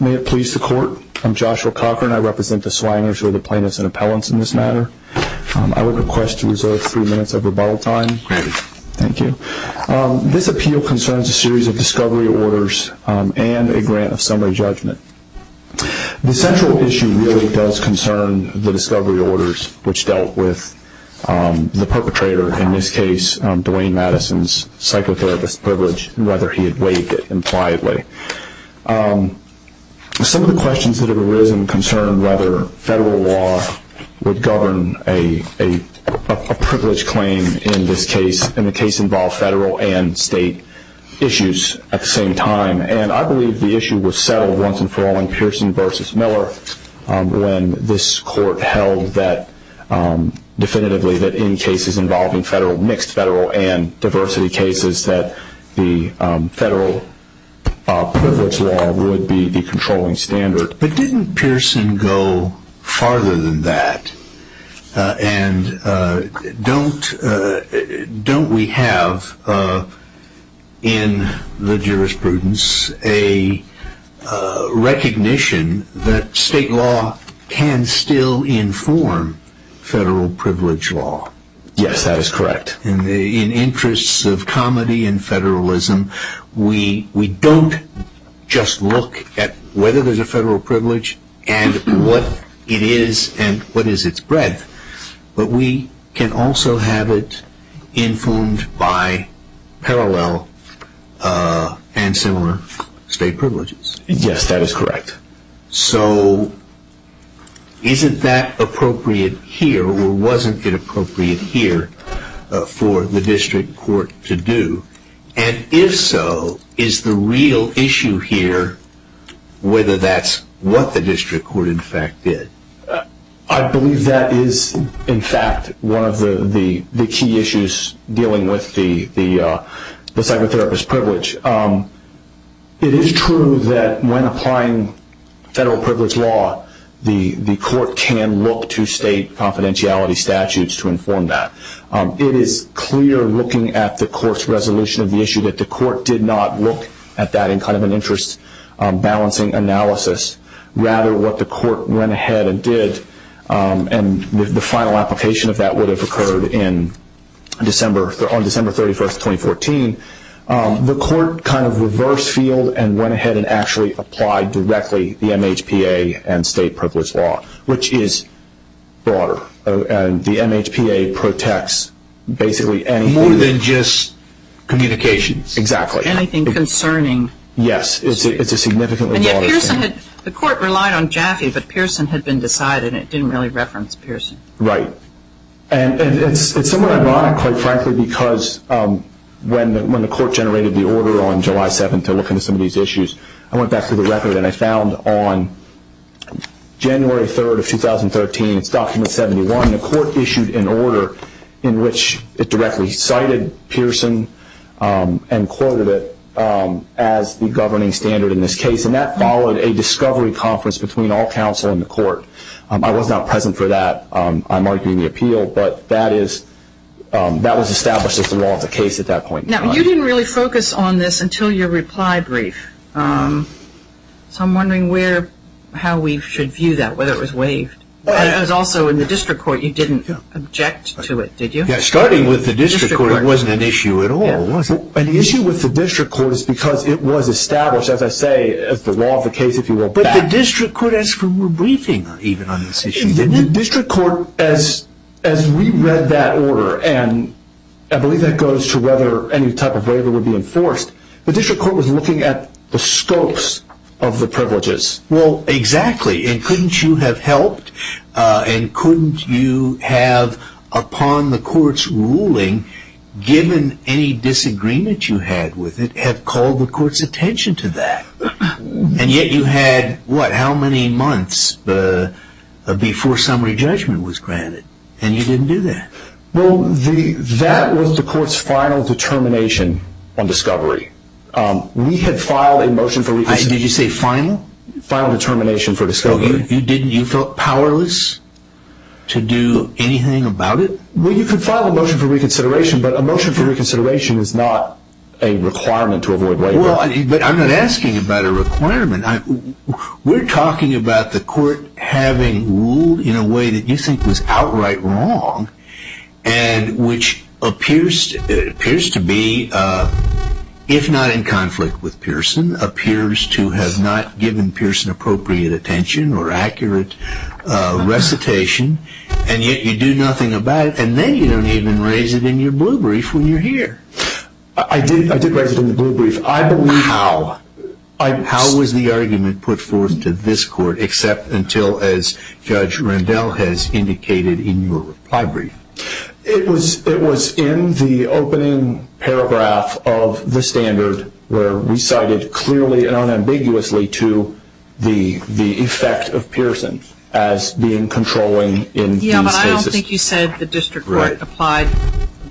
May it please the Court, I'm Joshua Cochran, I represent the Swangers, who are the plaintiffs and appellants in this matter. I would request to reserve three minutes of rebuttal time. This appeal concerns a series of discovery orders and a grant of summary judgment. The central issue really does concern the discovery orders which dealt with the perpetrator, in this case, Dwayne Madison's psychotherapist privilege and whether he had waived it impliedly. Some of the questions that have arisen concern whether federal law would govern a privilege claim in this case, and the case involved federal and state issues at the same time. And I believe the issue was settled once and for all in Pearson v. Miller when this Court held definitively that in cases involving mixed federal and diversity cases that the federal privilege law would be the controlling standard. But didn't Pearson go farther than that and don't we have in the jurisprudence a recognition that state law can still inform federal privilege law? Yes, that is correct. In the interests of comedy and federalism, we don't just look at whether there's a federal privilege and what it is and what is its breadth, but we can also have it informed by parallel and similar state privileges. Yes, that is correct. So isn't that appropriate here or wasn't it appropriate here for the district court to do? And if so, is the real issue here whether that's what the district court in fact did? I believe that is in fact one of the key issues dealing with the psychotherapist privilege. It is true that when applying federal privilege law, the court can look to state confidentiality statutes to inform that. It is clear looking at the court's resolution of the issue that the court did not look at that in kind of an interest balancing analysis. Rather, what the court went ahead and did and the final application of that would have occurred in December 31st, 2014, the court kind of reversed field and went ahead and actually applied directly the MHPA and state privilege law, which is broader and the MHPA protects basically anything. More than just communications. Exactly. Anything concerning. Yes, it's a significantly broader thing. The court relied on Jaffe, but Pearson had been decided and it didn't really reference Pearson. Right. And it's somewhat ironic, quite frankly, because when the court generated the order on July 7th to look into some of these issues, I went back through the record and I found on January 3rd of 2013, it's document 71, the court issued an order in which it directly cited Pearson and quoted it as the governing standard in this case. And that followed a discovery conference between all counsel in the court. I was not present for that. I'm arguing the appeal, but that was established as the law of the case at that point. Now, you didn't really focus on this until your reply brief. So I'm wondering how we should view that, whether it was waived. But it was also in the district court, you didn't object to it, did you? Yes, starting with the district court, it wasn't an issue at all, was it? An issue with the district court is because it was established, as I say, as the law of the case, if you will. The district court asked for a briefing even on this issue, didn't it? The district court, as we read that order, and I believe that goes to whether any type of waiver would be enforced, the district court was looking at the scopes of the privileges. Well, exactly. And couldn't you have helped and couldn't you have, upon the court's ruling, given any disagreement you had with it, have called the court's attention to that? And yet you had, what, how many months before summary judgment was granted and you didn't do that? Well, that was the court's final determination on discovery. We had filed a motion for reconsideration. Did you say final? Final determination for discovery. You didn't, you felt powerless to do anything about it? Well, you could file a motion for reconsideration, but a motion for reconsideration is not a requirement to avoid waiver. But I'm not asking about a requirement. We're talking about the court having ruled in a way that you think was outright wrong and which appears to be, if not in conflict with Pearson, appears to have not given Pearson appropriate attention or accurate recitation and yet you do nothing about it and then you don't even raise it in your blue brief when you're here. I did raise it in the blue brief. I believe... How? How was the argument put forth to this court except until, as Judge Rendell has indicated in your reply brief? It was in the opening paragraph of the standard where we cited clearly and unambiguously to the effect of Pearson as being controlling in these cases. Yeah, but I don't think you said the district court applied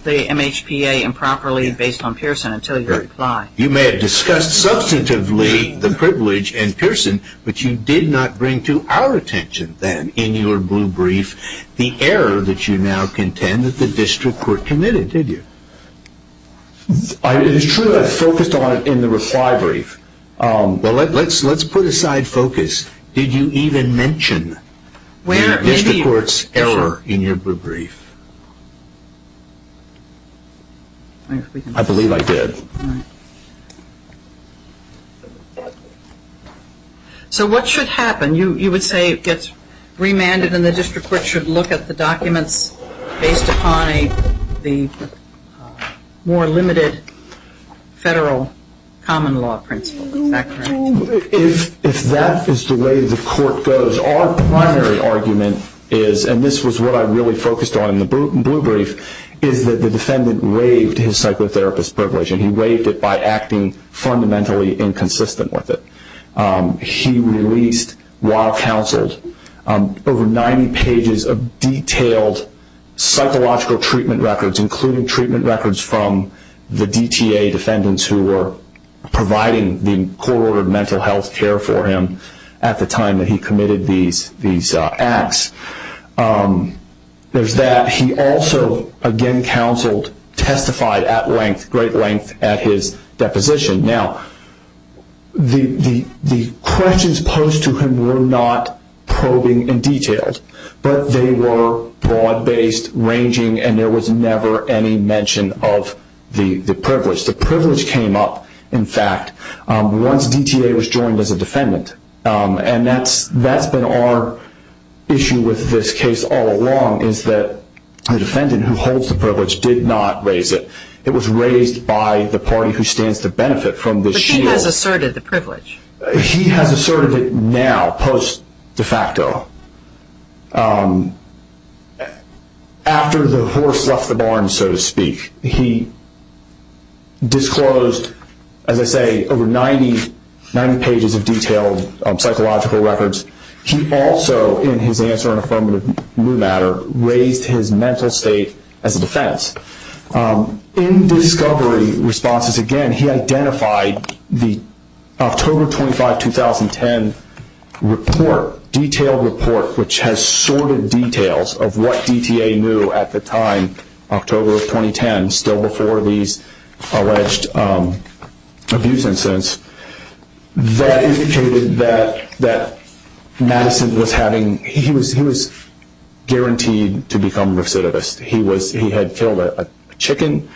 the MHPA improperly based on Pearson until your reply. You may have discussed substantively the privilege in Pearson, but you did not bring to our attention then in your blue brief the error that you now contend that the district court committed, did you? It is true that I focused on it in the reply brief. Well, let's put aside focus. Did you even mention the district court's error in your blue brief? I believe I did. So what should happen? You would say it gets remanded and the district court should look at the documents based upon the more limited federal common law principle, is that correct? If that is the way the court goes, our primary argument is, and this is what I really focused on in the blue brief, is that the defendant waived his psychotherapist privilege and waived it by acting fundamentally inconsistent with it. He released, while counseled, over 90 pages of detailed psychological treatment records, including treatment records from the DTA defendants who were providing the court-ordered mental health care for him at the time that he committed these acts. There is that. He also, again counseled, testified at length, great length, at his deposition. Now, the questions posed to him were not probing and detailed, but they were broad-based, ranging, and there was never any mention of the privilege. The privilege came up, in fact, once DTA was joined as a defendant. And that's been our issue with this case all along, is that the defendant who holds the privilege did not raise it. It was raised by the party who stands to benefit from this shield. But he has asserted the privilege. He has asserted it now, post-de facto. After the horse left the barn, so to speak, he disclosed, as I say, over 90 pages of detailed psychological records. He also, in his answer in affirmative new matter, raised his mental state as a defense. In discovery responses, again, he identified the October 25, 2010 report, detailed report, which has sorted details of what DTA knew at the time, October of 2010, still before these alleged abuse incidents. That indicated that Madison was having, he was guaranteed to become recidivist. He had killed a chicken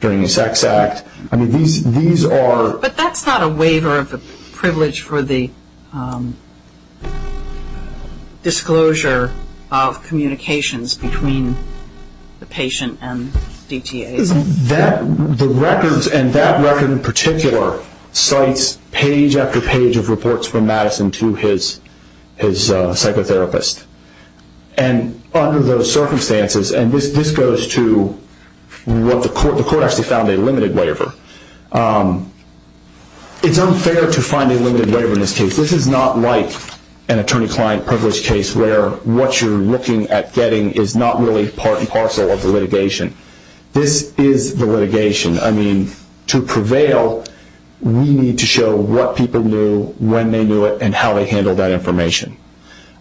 during a sex act. I mean, these are... But that's not a waiver of the privilege for the disclosure of communications between the patient and DTA. The records, and that record in particular, cites page after page of reports from Madison to his psychotherapist. And under those circumstances, and this goes to what the court, the court actually found a limited waiver. It's unfair to find a limited waiver in this case. This is not like an attorney-client privilege case where what you're looking at getting is not really part and parcel of the litigation. This is the litigation. I mean, to prevail, we need to show what people knew, when they knew it, and how they handled that information.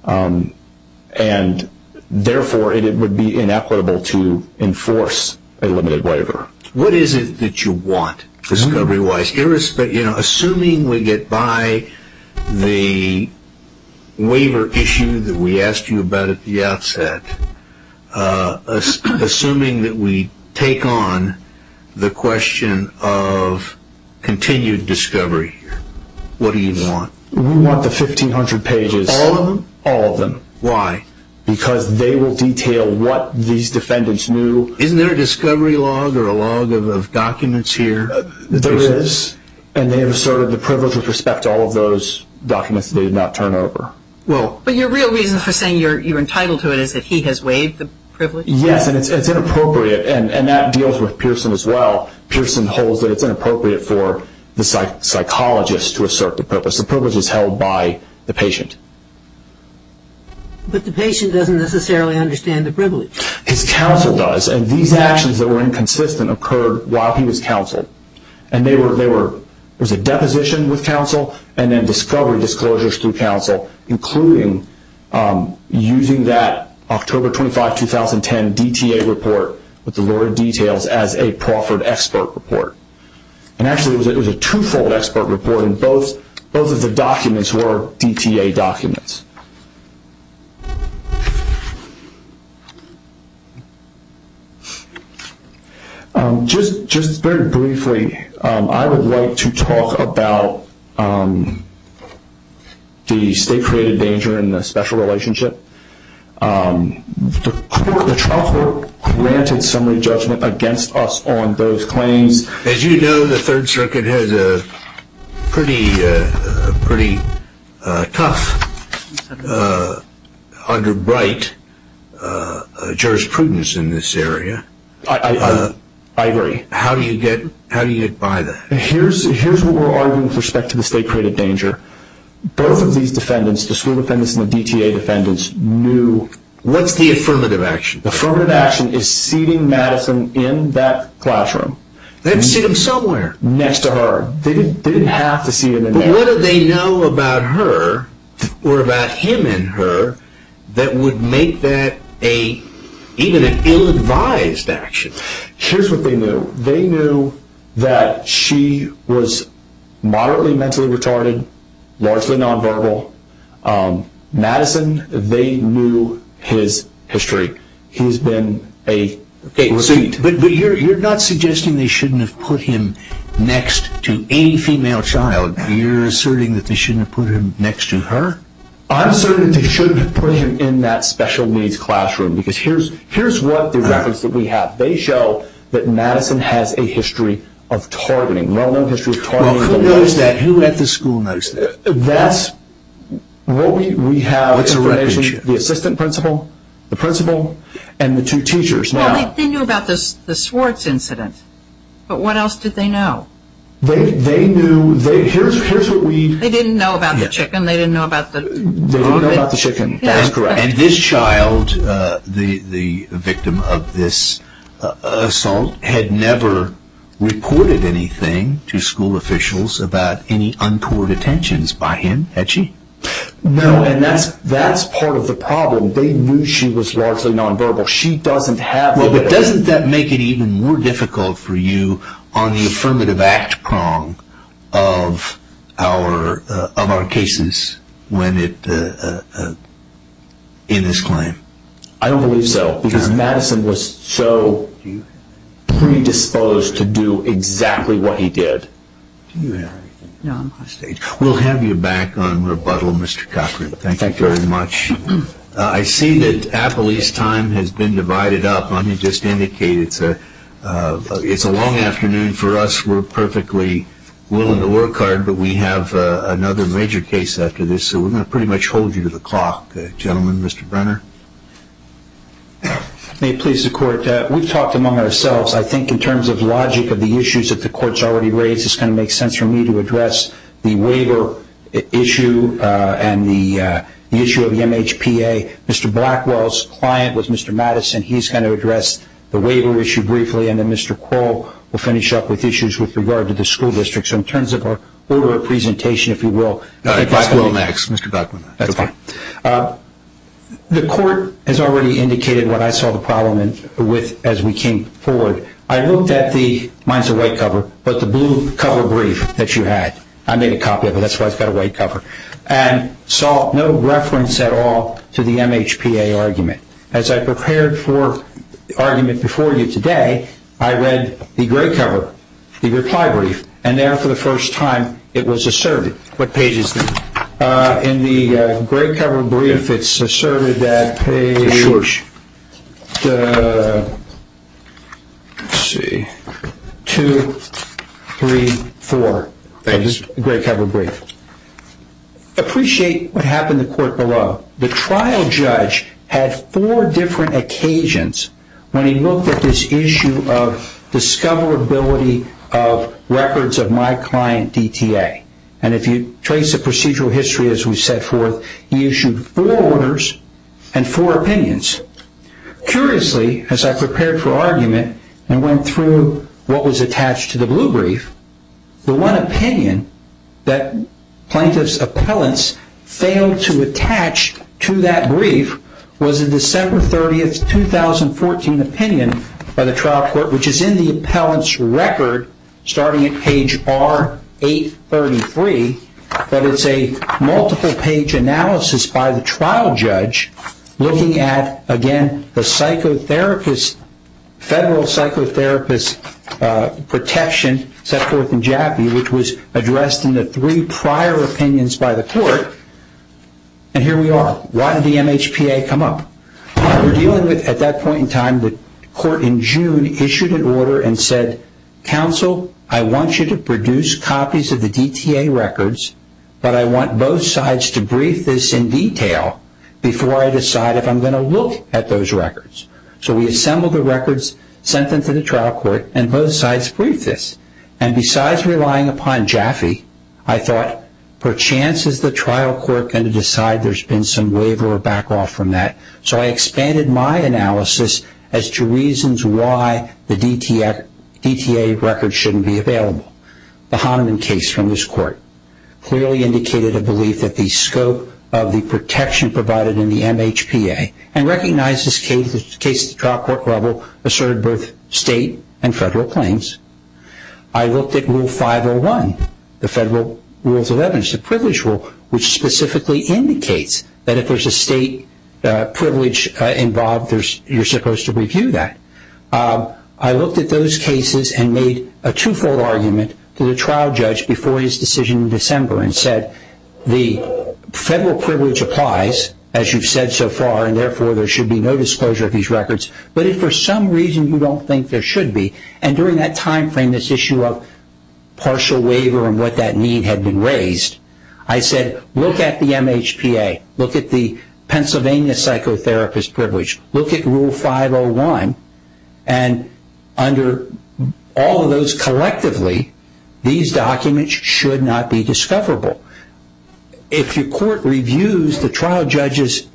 And therefore, it would be inequitable to enforce a limited waiver. What is it that you want, discovery-wise? Assuming we get by the waiver issue that we asked you about at the outset, assuming that we take on the question of continued discovery, what do you want? We want the 1,500 pages. All of them? All of them. Why? Because they will detail what these defendants knew. Isn't there a discovery log or a log of documents here? There is, and they have asserted the privilege with respect to all of those documents that they did not turn over. Well... But your real reason for saying you're entitled to it is that he has waived the privilege? Yes, and it's inappropriate, and that deals with Pearson as well. Pearson holds that it's inappropriate for the psychologist to assert the privilege. The privilege is held by the patient. But the patient doesn't necessarily understand the privilege. His counsel does, and these actions that were inconsistent occurred while he was counseled. And there was a deposition with counsel, and then discovery disclosures through counsel, including using that October 25, 2010 DTA report with the lower details as a Crawford expert report. And actually, it was a two-fold expert report, and both of the documents were DTA documents. Just very briefly, I would like to talk about the state-created danger in the special relationship. The trial court granted summary judgment against us on those claims. As you know, the Third Circuit has a pretty tough underbrite jurisprudence in this area. I agree. How do you get by that? Here's what we're arguing with respect to the state-created danger. Both of these defendants, the school defendants and the DTA defendants, knew... What's the affirmative action? The affirmative action is seating Madison in that classroom. They had to seat him somewhere. Next to her. They didn't have to seat him in there. But what did they know about her, or about him and her, that would make that even an ill-advised action? Here's what they knew. They knew that she was moderately mentally retarded, largely nonverbal. Madison, they knew his history. He's been a repeat. But you're not suggesting they shouldn't have put him next to a female child. You're asserting that they shouldn't have put him next to her? I'm asserting that they shouldn't have put him in that special needs classroom. Here's what the reference that we have. They show that Madison has a history of targeting. Well, who knows that? Who at the school knows that? What we have is the assistant principal, the principal, and the two teachers. They knew about the Swartz incident. But what else did they know? They knew, here's what we... They didn't know about the chicken. They didn't know about the... They didn't know about the chicken. That's correct. And this child, the victim of this assault, had never reported anything to school officials about any untoward attentions by him, had she? No, and that's part of the problem. They knew she was largely nonverbal. She doesn't have... Well, but doesn't that make it even more difficult for you on the affirmative act prong of our cases when it... in this claim? I don't believe so, because Madison was so predisposed to do exactly what he did. Do you have anything? No, I'm off stage. We'll have you back on rebuttal, Mr. Cochran. Thank you very much. I see that Appley's time has been divided up. Let me just indicate it's a long afternoon for us. We're perfectly willing to work hard, but we have another major case after this. So we're going to pretty much hold you to the clock, gentlemen. Mr. Brenner? May it please the court. We've talked among ourselves. I think in terms of logic of the issues that the court's already raised, it's going to make sense for me to address the waiver issue and the issue of the MHPA. Mr. Blackwell's client was Mr. Madison. He's going to address the waiver issue briefly, and then Mr. Crow will finish up with issues with regard to the school district. So in terms of our order of presentation, if you will... Blackwell next, Mr. Blackwell. That's fine. The court has already indicated what I saw the problem with as we came forward. I looked at the... Mine's a white cover, but the blue cover brief that you had. I made a copy of it. That's why it's got a white cover. And saw no reference at all to the MHPA argument. As I prepared for the argument before you today, I read the gray cover, the reply brief, and there, for the first time, it was asserted. What page is this? It's a short. Let's see. Two, three, four. Thank you. Gray cover brief. Appreciate what happened in the court below. The trial judge had four different occasions when he looked at this issue of discoverability of records of my client DTA. And if you trace the procedural history as we set forth, he issued four orders and four opinions. Curiously, as I prepared for argument and went through what was attached to the blue brief, the one opinion that plaintiff's appellants failed to attach to that brief was a December 30th, 2014 opinion by the trial court, which is in the appellant's record, starting at page R833. But it's a multiple-page analysis by the trial judge looking at, again, the federal psychotherapist protection set forth in Jaffe, which was addressed in the three prior opinions by the court. And here we are. Why did the MHPA come up? We're dealing with, at that point in time, the court in June issued an order and said, counsel, I want you to produce copies of the DTA records, but I want both sides to brief this in detail before I decide if I'm going to look at those records. So we assembled the records, sent them to the trial court, and both sides briefed this. And besides relying upon Jaffe, I thought, perchance, is the trial court going to decide there's been some waiver or back off from that? So I expanded my analysis as to reasons why the DTA records shouldn't be available. The Hahnemann case from this court clearly indicated a belief that the scope of the protection provided in the MHPA and recognized this case at the trial court level asserted both state and federal claims. I looked at Rule 501, the federal rules of evidence, the privilege rule, which specifically indicates that if there's a state privilege involved, you're supposed to review that. I looked at those cases and made a twofold argument to the trial judge before his decision in December and said, the federal privilege applies, as you've said so far, and therefore there should be no disclosure of these records. But if for some reason you don't think there should be, and during that time frame this issue of partial waiver and what that mean had been raised, I said, look at the MHPA, look at the Pennsylvania psychotherapist privilege, look at Rule 501, and under all of those collectively, these documents should not be discoverable. If your court reviews the trial judge's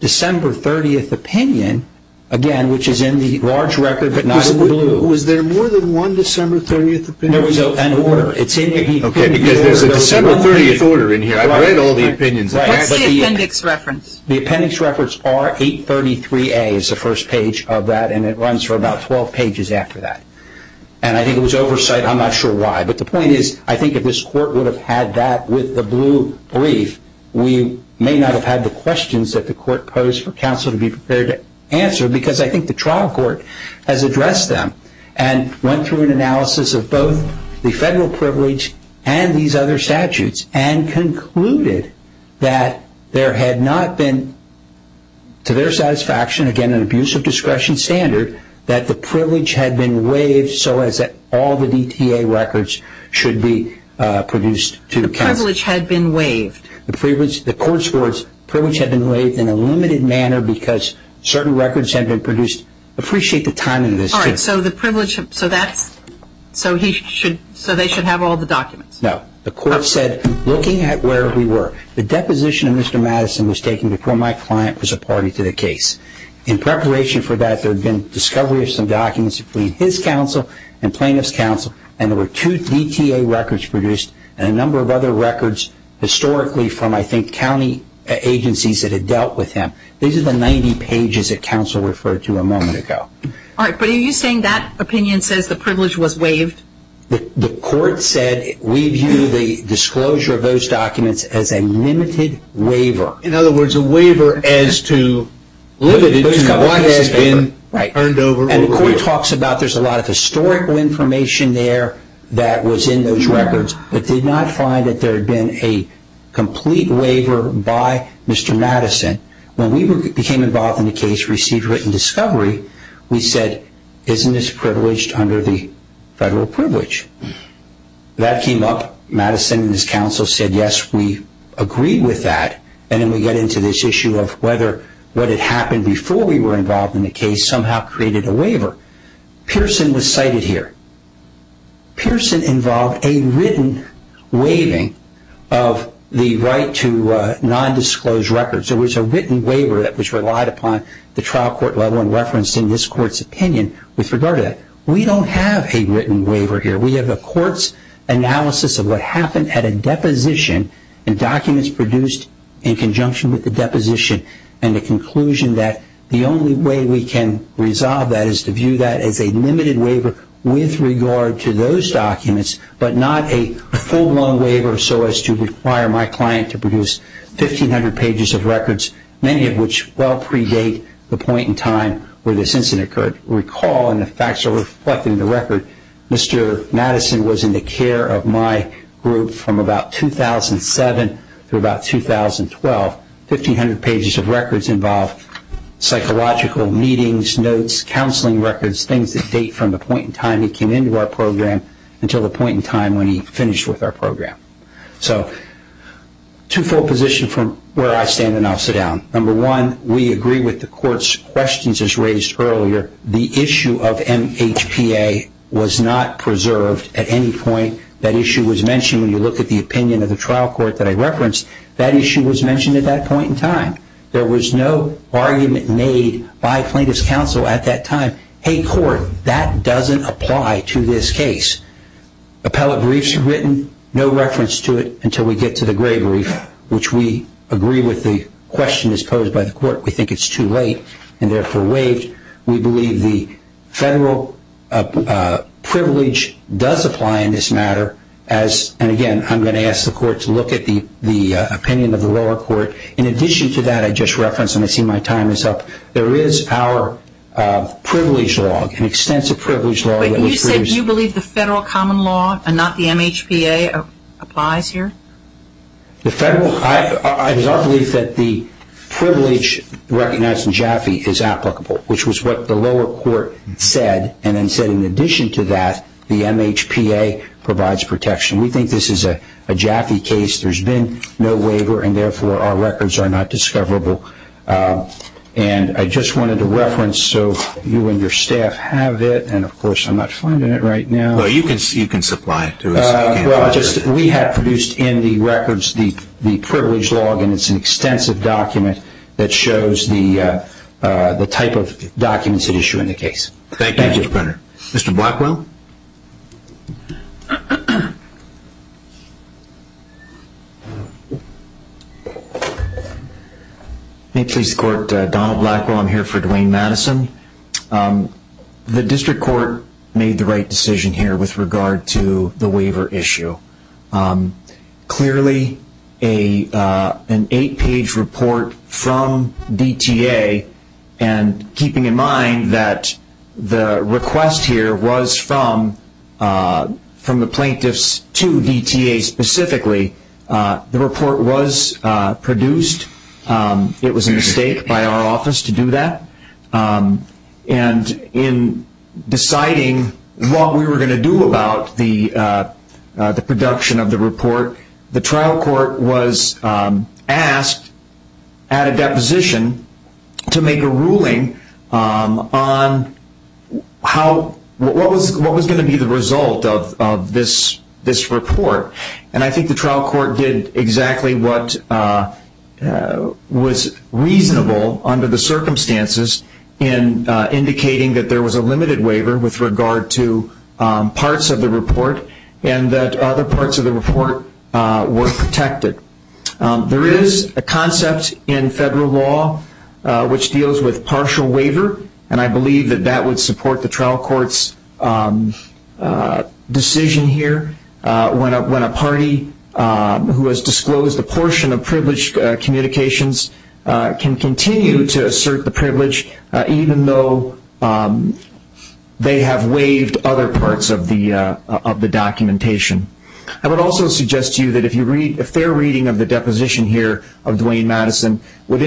December 30th opinion, again, which is in the large record but not in the blue. Was there more than one December 30th opinion? There was an order. It's in the order. OK, because there's a December 30th order in here. I've read all the opinions. What's the appendix reference? The appendix reference are 833A is the first page of that, and it runs for about 12 pages after that. And I think it was oversight. I'm not sure why. But the point is, I think if this court would have had that with the blue brief, we may not have had the questions that the court posed for counsel to be prepared to answer because I think the trial court has addressed them and went through an analysis of both the federal privilege and these other statutes and concluded that there had not been, to their satisfaction, again, an abuse of discretion standard, that the privilege had been waived so as that all the DTA records should be produced to counsel. The privilege had been waived. The privilege, the court's words, privilege had been waived in a limited manner because certain records had been produced. Appreciate the timing of this. All right. So the privilege, so that's, so he should, so they should have all the documents. No. The court said, looking at where we were, the deposition of Mr. Madison was taken before my client was a party to the case. In preparation for that, there had been discovery of some documents between his counsel and plaintiff's counsel, and there were two DTA records produced and a number of other records historically from, I think, county agencies that had dealt with him. These are the 90 pages that counsel referred to a moment ago. All right. But are you saying that opinion says the privilege was waived? The court said we view the disclosure of those documents as a limited waiver. In other words, a waiver as to what has been turned over. And the court talks about there's a lot of historical information there that was in those When we became involved in the case, received written discovery, we said, isn't this privileged under the federal privilege? That came up. Madison and his counsel said, yes, we agreed with that. And then we get into this issue of whether what had happened before we were involved in the case somehow created a waiver. Pearson was cited here. Pearson involved a written waiving of the right to non-disclosed records. There was a written waiver that was relied upon the trial court level and referenced in this court's opinion with regard to that. We don't have a written waiver here. We have a court's analysis of what happened at a deposition and documents produced in conjunction with the deposition and the conclusion that the only way we can resolve that is to those documents, but not a full-blown waiver so as to require my client to produce 1,500 pages of records, many of which well predate the point in time where this incident occurred. Recall, and the facts are reflecting the record, Mr. Madison was in the care of my group from about 2007 through about 2012. 1,500 pages of records involved psychological meetings, notes, counseling records, things that date from the point in time he came into our program until the point in time when he finished with our program. So twofold position from where I stand and I'll sit down. Number one, we agree with the court's questions as raised earlier. The issue of MHPA was not preserved at any point. That issue was mentioned when you look at the opinion of the trial court that I referenced. That issue was mentioned at that point in time. There was no argument made by plaintiff's counsel at that time. Hey, court, that doesn't apply to this case. Appellate briefs were written, no reference to it until we get to the gray brief, which we agree with the question as posed by the court. We think it's too late and therefore waived. We believe the federal privilege does apply in this matter. And again, I'm going to ask the court to look at the opinion of the lower court. In addition to that I just referenced, and I see my time is up. There is our privilege law, an extensive privilege law. But you said you believe the federal common law and not the MHPA applies here? The federal, I believe that the privilege recognized in Jaffe is applicable, which was what the lower court said and then said in addition to that the MHPA provides protection. We think this is a Jaffe case. There's been no waiver and therefore our records are not discoverable. And I just wanted to reference, so you and your staff have it and of course I'm not finding it right now. Well, you can supply it to us. We have produced in the records the privilege law and it's an extensive document that shows the type of documents that issue in the case. Thank you, Mr. Brenner. Mr. Blackwell? May it please the court, Donald Blackwell. I'm here for Dwayne Madison. The district court made the right decision here with regard to the waiver issue. Clearly, an eight-page report from DTA and keeping in mind that the request here was from the plaintiffs to DTA specifically, the report was produced. It was a mistake by our office to do that. And in deciding what we were going to do about the production of the report, the trial court was asked at a deposition to make a ruling on what was going to be the result of this report. I think the trial court did exactly what was reasonable under the circumstances in indicating that there was a limited waiver with regard to parts of the report and that other parts of the report were protected. There is a concept in federal law which deals with partial waiver and I believe that that would support the trial court's decision here when a party who has disclosed a portion of privileged communications can continue to assert the privilege even though they have waived other parts of the documentation. I would also suggest to you that a fair reading of the deposition here of Dwayne Madison would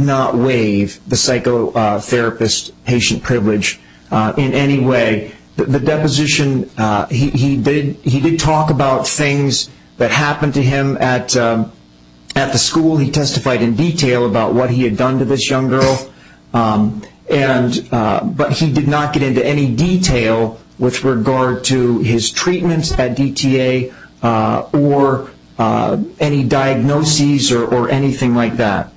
not waive the psychotherapist patient privilege in any way. The deposition, he did talk about things that happened to him at the school. He testified in detail about what he had done to this young girl, but he did not get into any detail with regard to his treatments at DTA or any diagnoses or anything like that.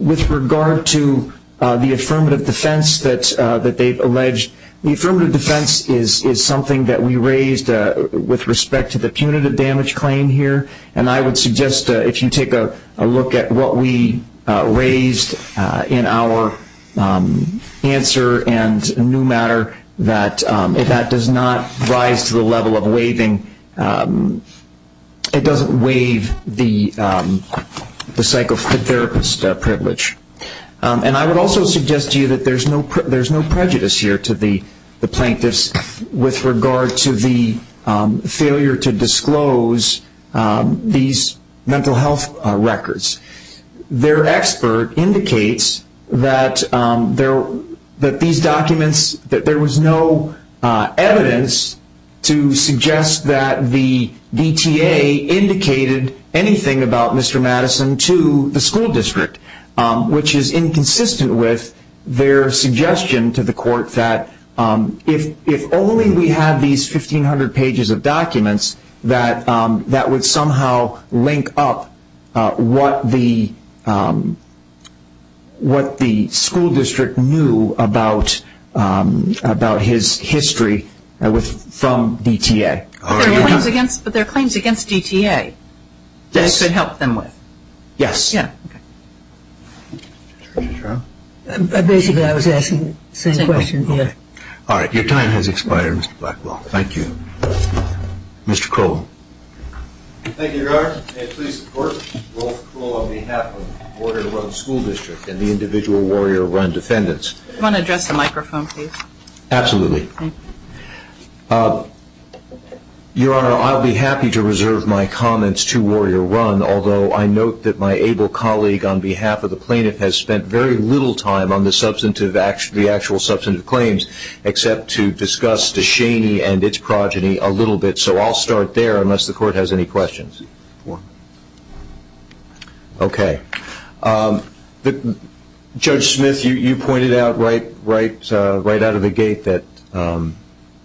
With regard to the affirmative defense that they have alleged, the affirmative defense is something that we raised with respect to the punitive damage claim here and I would suggest if you take a look at what we raised in our answer and new matter that that does not rise to the level of waiving, it does not waive the psychotherapist privilege. And I would also suggest to you that there is no prejudice here to the plaintiffs with regard to the failure to disclose these mental health records. Their expert indicates that there was no evidence to suggest that the DTA indicated anything about Mr. Madison to the school district, which is inconsistent with their suggestion to the court that if only we had these 1500 pages of documents that would somehow link up what the school district knew about his history from DTA. But there are claims against DTA that you could help them with? Yes. Basically, I was asking the same question. All right, your time has expired, Mr. Blackwell. Thank you. Mr. Crowell. Thank you, Your Honor. May it please the court. Rolf Crowell on behalf of Warrior Run School District and the individual Warrior Run defendants. Do you want to address the microphone, please? Absolutely. Your Honor, I'll be happy to reserve my comments to Warrior Run, although I note that my able colleague on behalf of the plaintiff has spent very little time on the actual substantive claims except to discuss DeShaney and its progeny a little bit. So I'll start there unless the court has any questions. Okay. Judge Smith, you pointed out right out of the gate that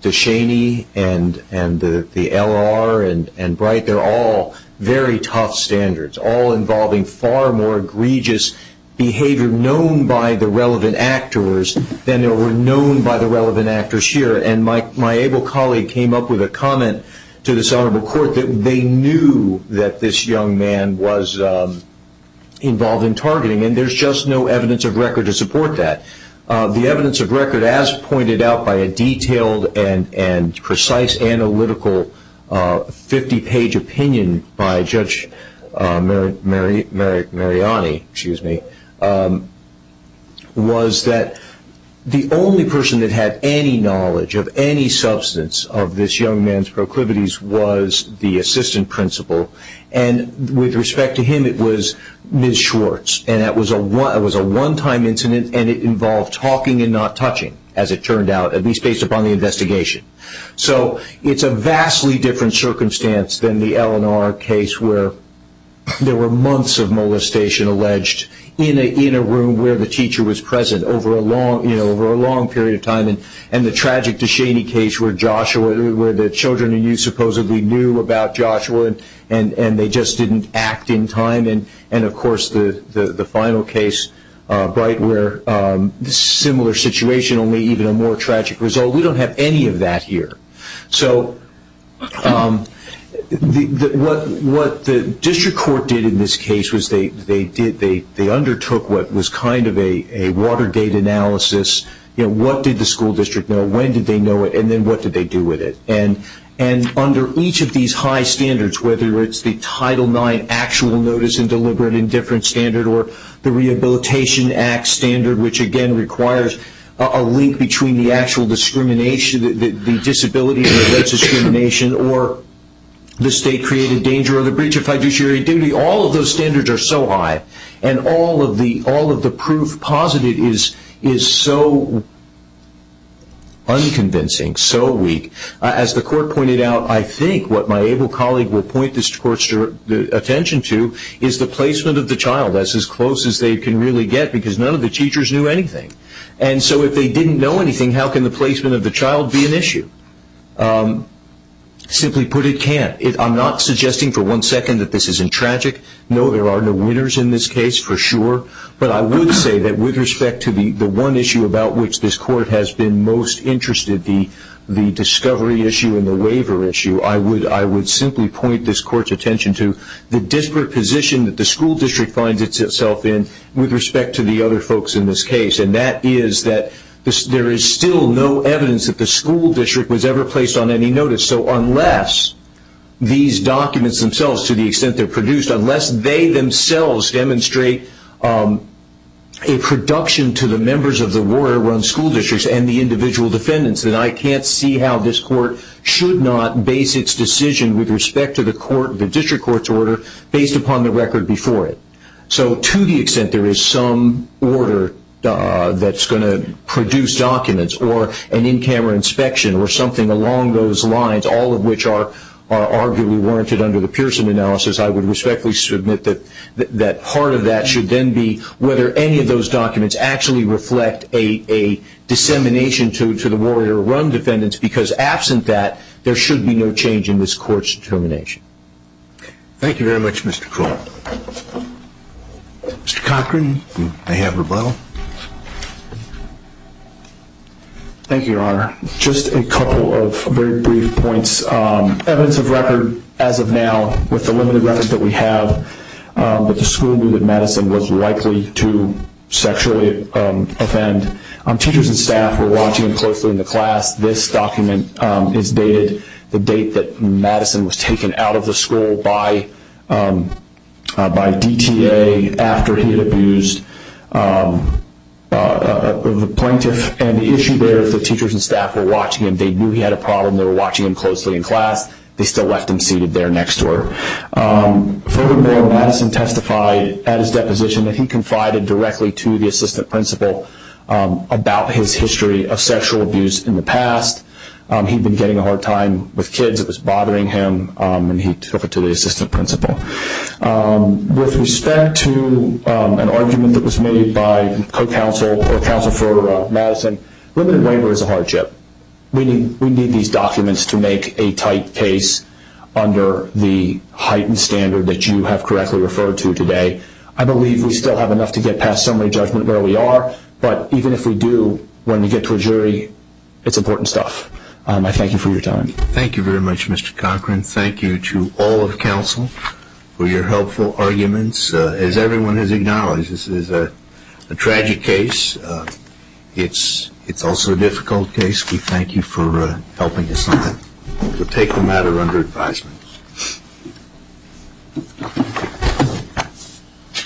DeShaney and the LR and Bright, they're all very tough standards, all involving far more egregious behavior known by the relevant actors than there were known by the relevant actors here. My able colleague came up with a comment to this honorable court that they knew that this young man was involved in targeting, and there's just no evidence of record to support that. The evidence of record, as pointed out by a detailed and precise analytical 50-page opinion by Judge Mariani, was that the only person that had any knowledge of any substance of this young man's proclivities was the assistant principal. With respect to him, it was Ms. Schwartz, and it was a one-time incident, and it involved talking and not touching, as it turned out, at least based upon the investigation. So it's a vastly different circumstance than the LNR case where there were months of molestation alleged in a room where the teacher was present over a long period of time. And the tragic DeShaney case where Joshua, where the children and youth supposedly knew about Joshua, and they just didn't act in time. And of course, the final case, Bright, where a similar situation, only even a more tragic result, we don't have any of that here. So what the district court did in this case was they undertook what was kind of a water gate analysis. What did the school district know? When did they know it? And then what did they do with it? And under each of these high standards, whether it's the Title IX actual notice and deliberate indifference standard or the Rehabilitation Act standard, which again requires a link between the actual discrimination, the disability and alleged discrimination, or the state created danger or the breach of fiduciary duty, all of those standards are so high. And all of the proof posited is so unconvincing, so weak. As the court pointed out, I think what my able colleague will point this court's attention to is the placement of the child. That's as close as they can really get because none of the teachers knew anything. And so if they didn't know anything, how can the placement of the child be an issue? Simply put, it can't. I'm not suggesting for one second that this isn't tragic. No, there are no winners in this case, for sure. But I would say that with respect to the one issue about which this court has been most interested, the discovery issue and the waiver issue, I would simply point this court's attention to the disparate position that the school district finds itself in with respect to the other folks in this case. And that is that there is still no evidence that the school district was ever placed on any notice. So unless these documents themselves, to the extent they're produced, unless they themselves demonstrate a production to the members of the warrior-run school districts and the individual defendants, then I can't see how this court should not base its decision with respect to the district court's order based upon the record before it. So to the extent there is some order that's going to produce documents or an in-camera inspection or something along those lines, all of which are arguably warranted under the Pearson analysis, I would respectfully submit that part of that should then be whether any of those documents actually reflect a dissemination to the warrior-run defendants. Because absent that, there should be no change in this court's determination. Thank you very much, Mr. Crow. Mr. Cochran, may I have rebuttal? Thank you, Your Honor. Just a couple of very brief points. Evidence of record as of now, with the limited records that we have, that the school knew that Madison was likely to sexually offend. Teachers and staff were watching closely in the class. This document is dated the date that Madison was taken out of the school by DTA after he had abused a plaintiff. And the issue there is the teachers and staff were watching him. They knew he had a problem. They were watching him closely in class. They still left him seated there next to her. Furthermore, Madison testified at his deposition that he confided directly to the assistant principal about his history of sexual abuse in the past. He'd been getting a hard time with kids. It was bothering him. And he took it to the assistant principal. With respect to an argument that was made by co-counsel or counsel for Madison, limited waiver is a hardship. We need these documents to make a tight case under the heightened standard that you have correctly referred to today. I believe we still have enough to get past summary judgment where we are. But even if we do, when we get to a jury, it's important stuff. I thank you for your time. Thank you very much, Mr. Cochran. Thank you to all of counsel for your helpful arguments. As everyone has acknowledged, this is a tragic case. It's also a difficult case. We thank you for helping us on that. We'll take the matter under advisement.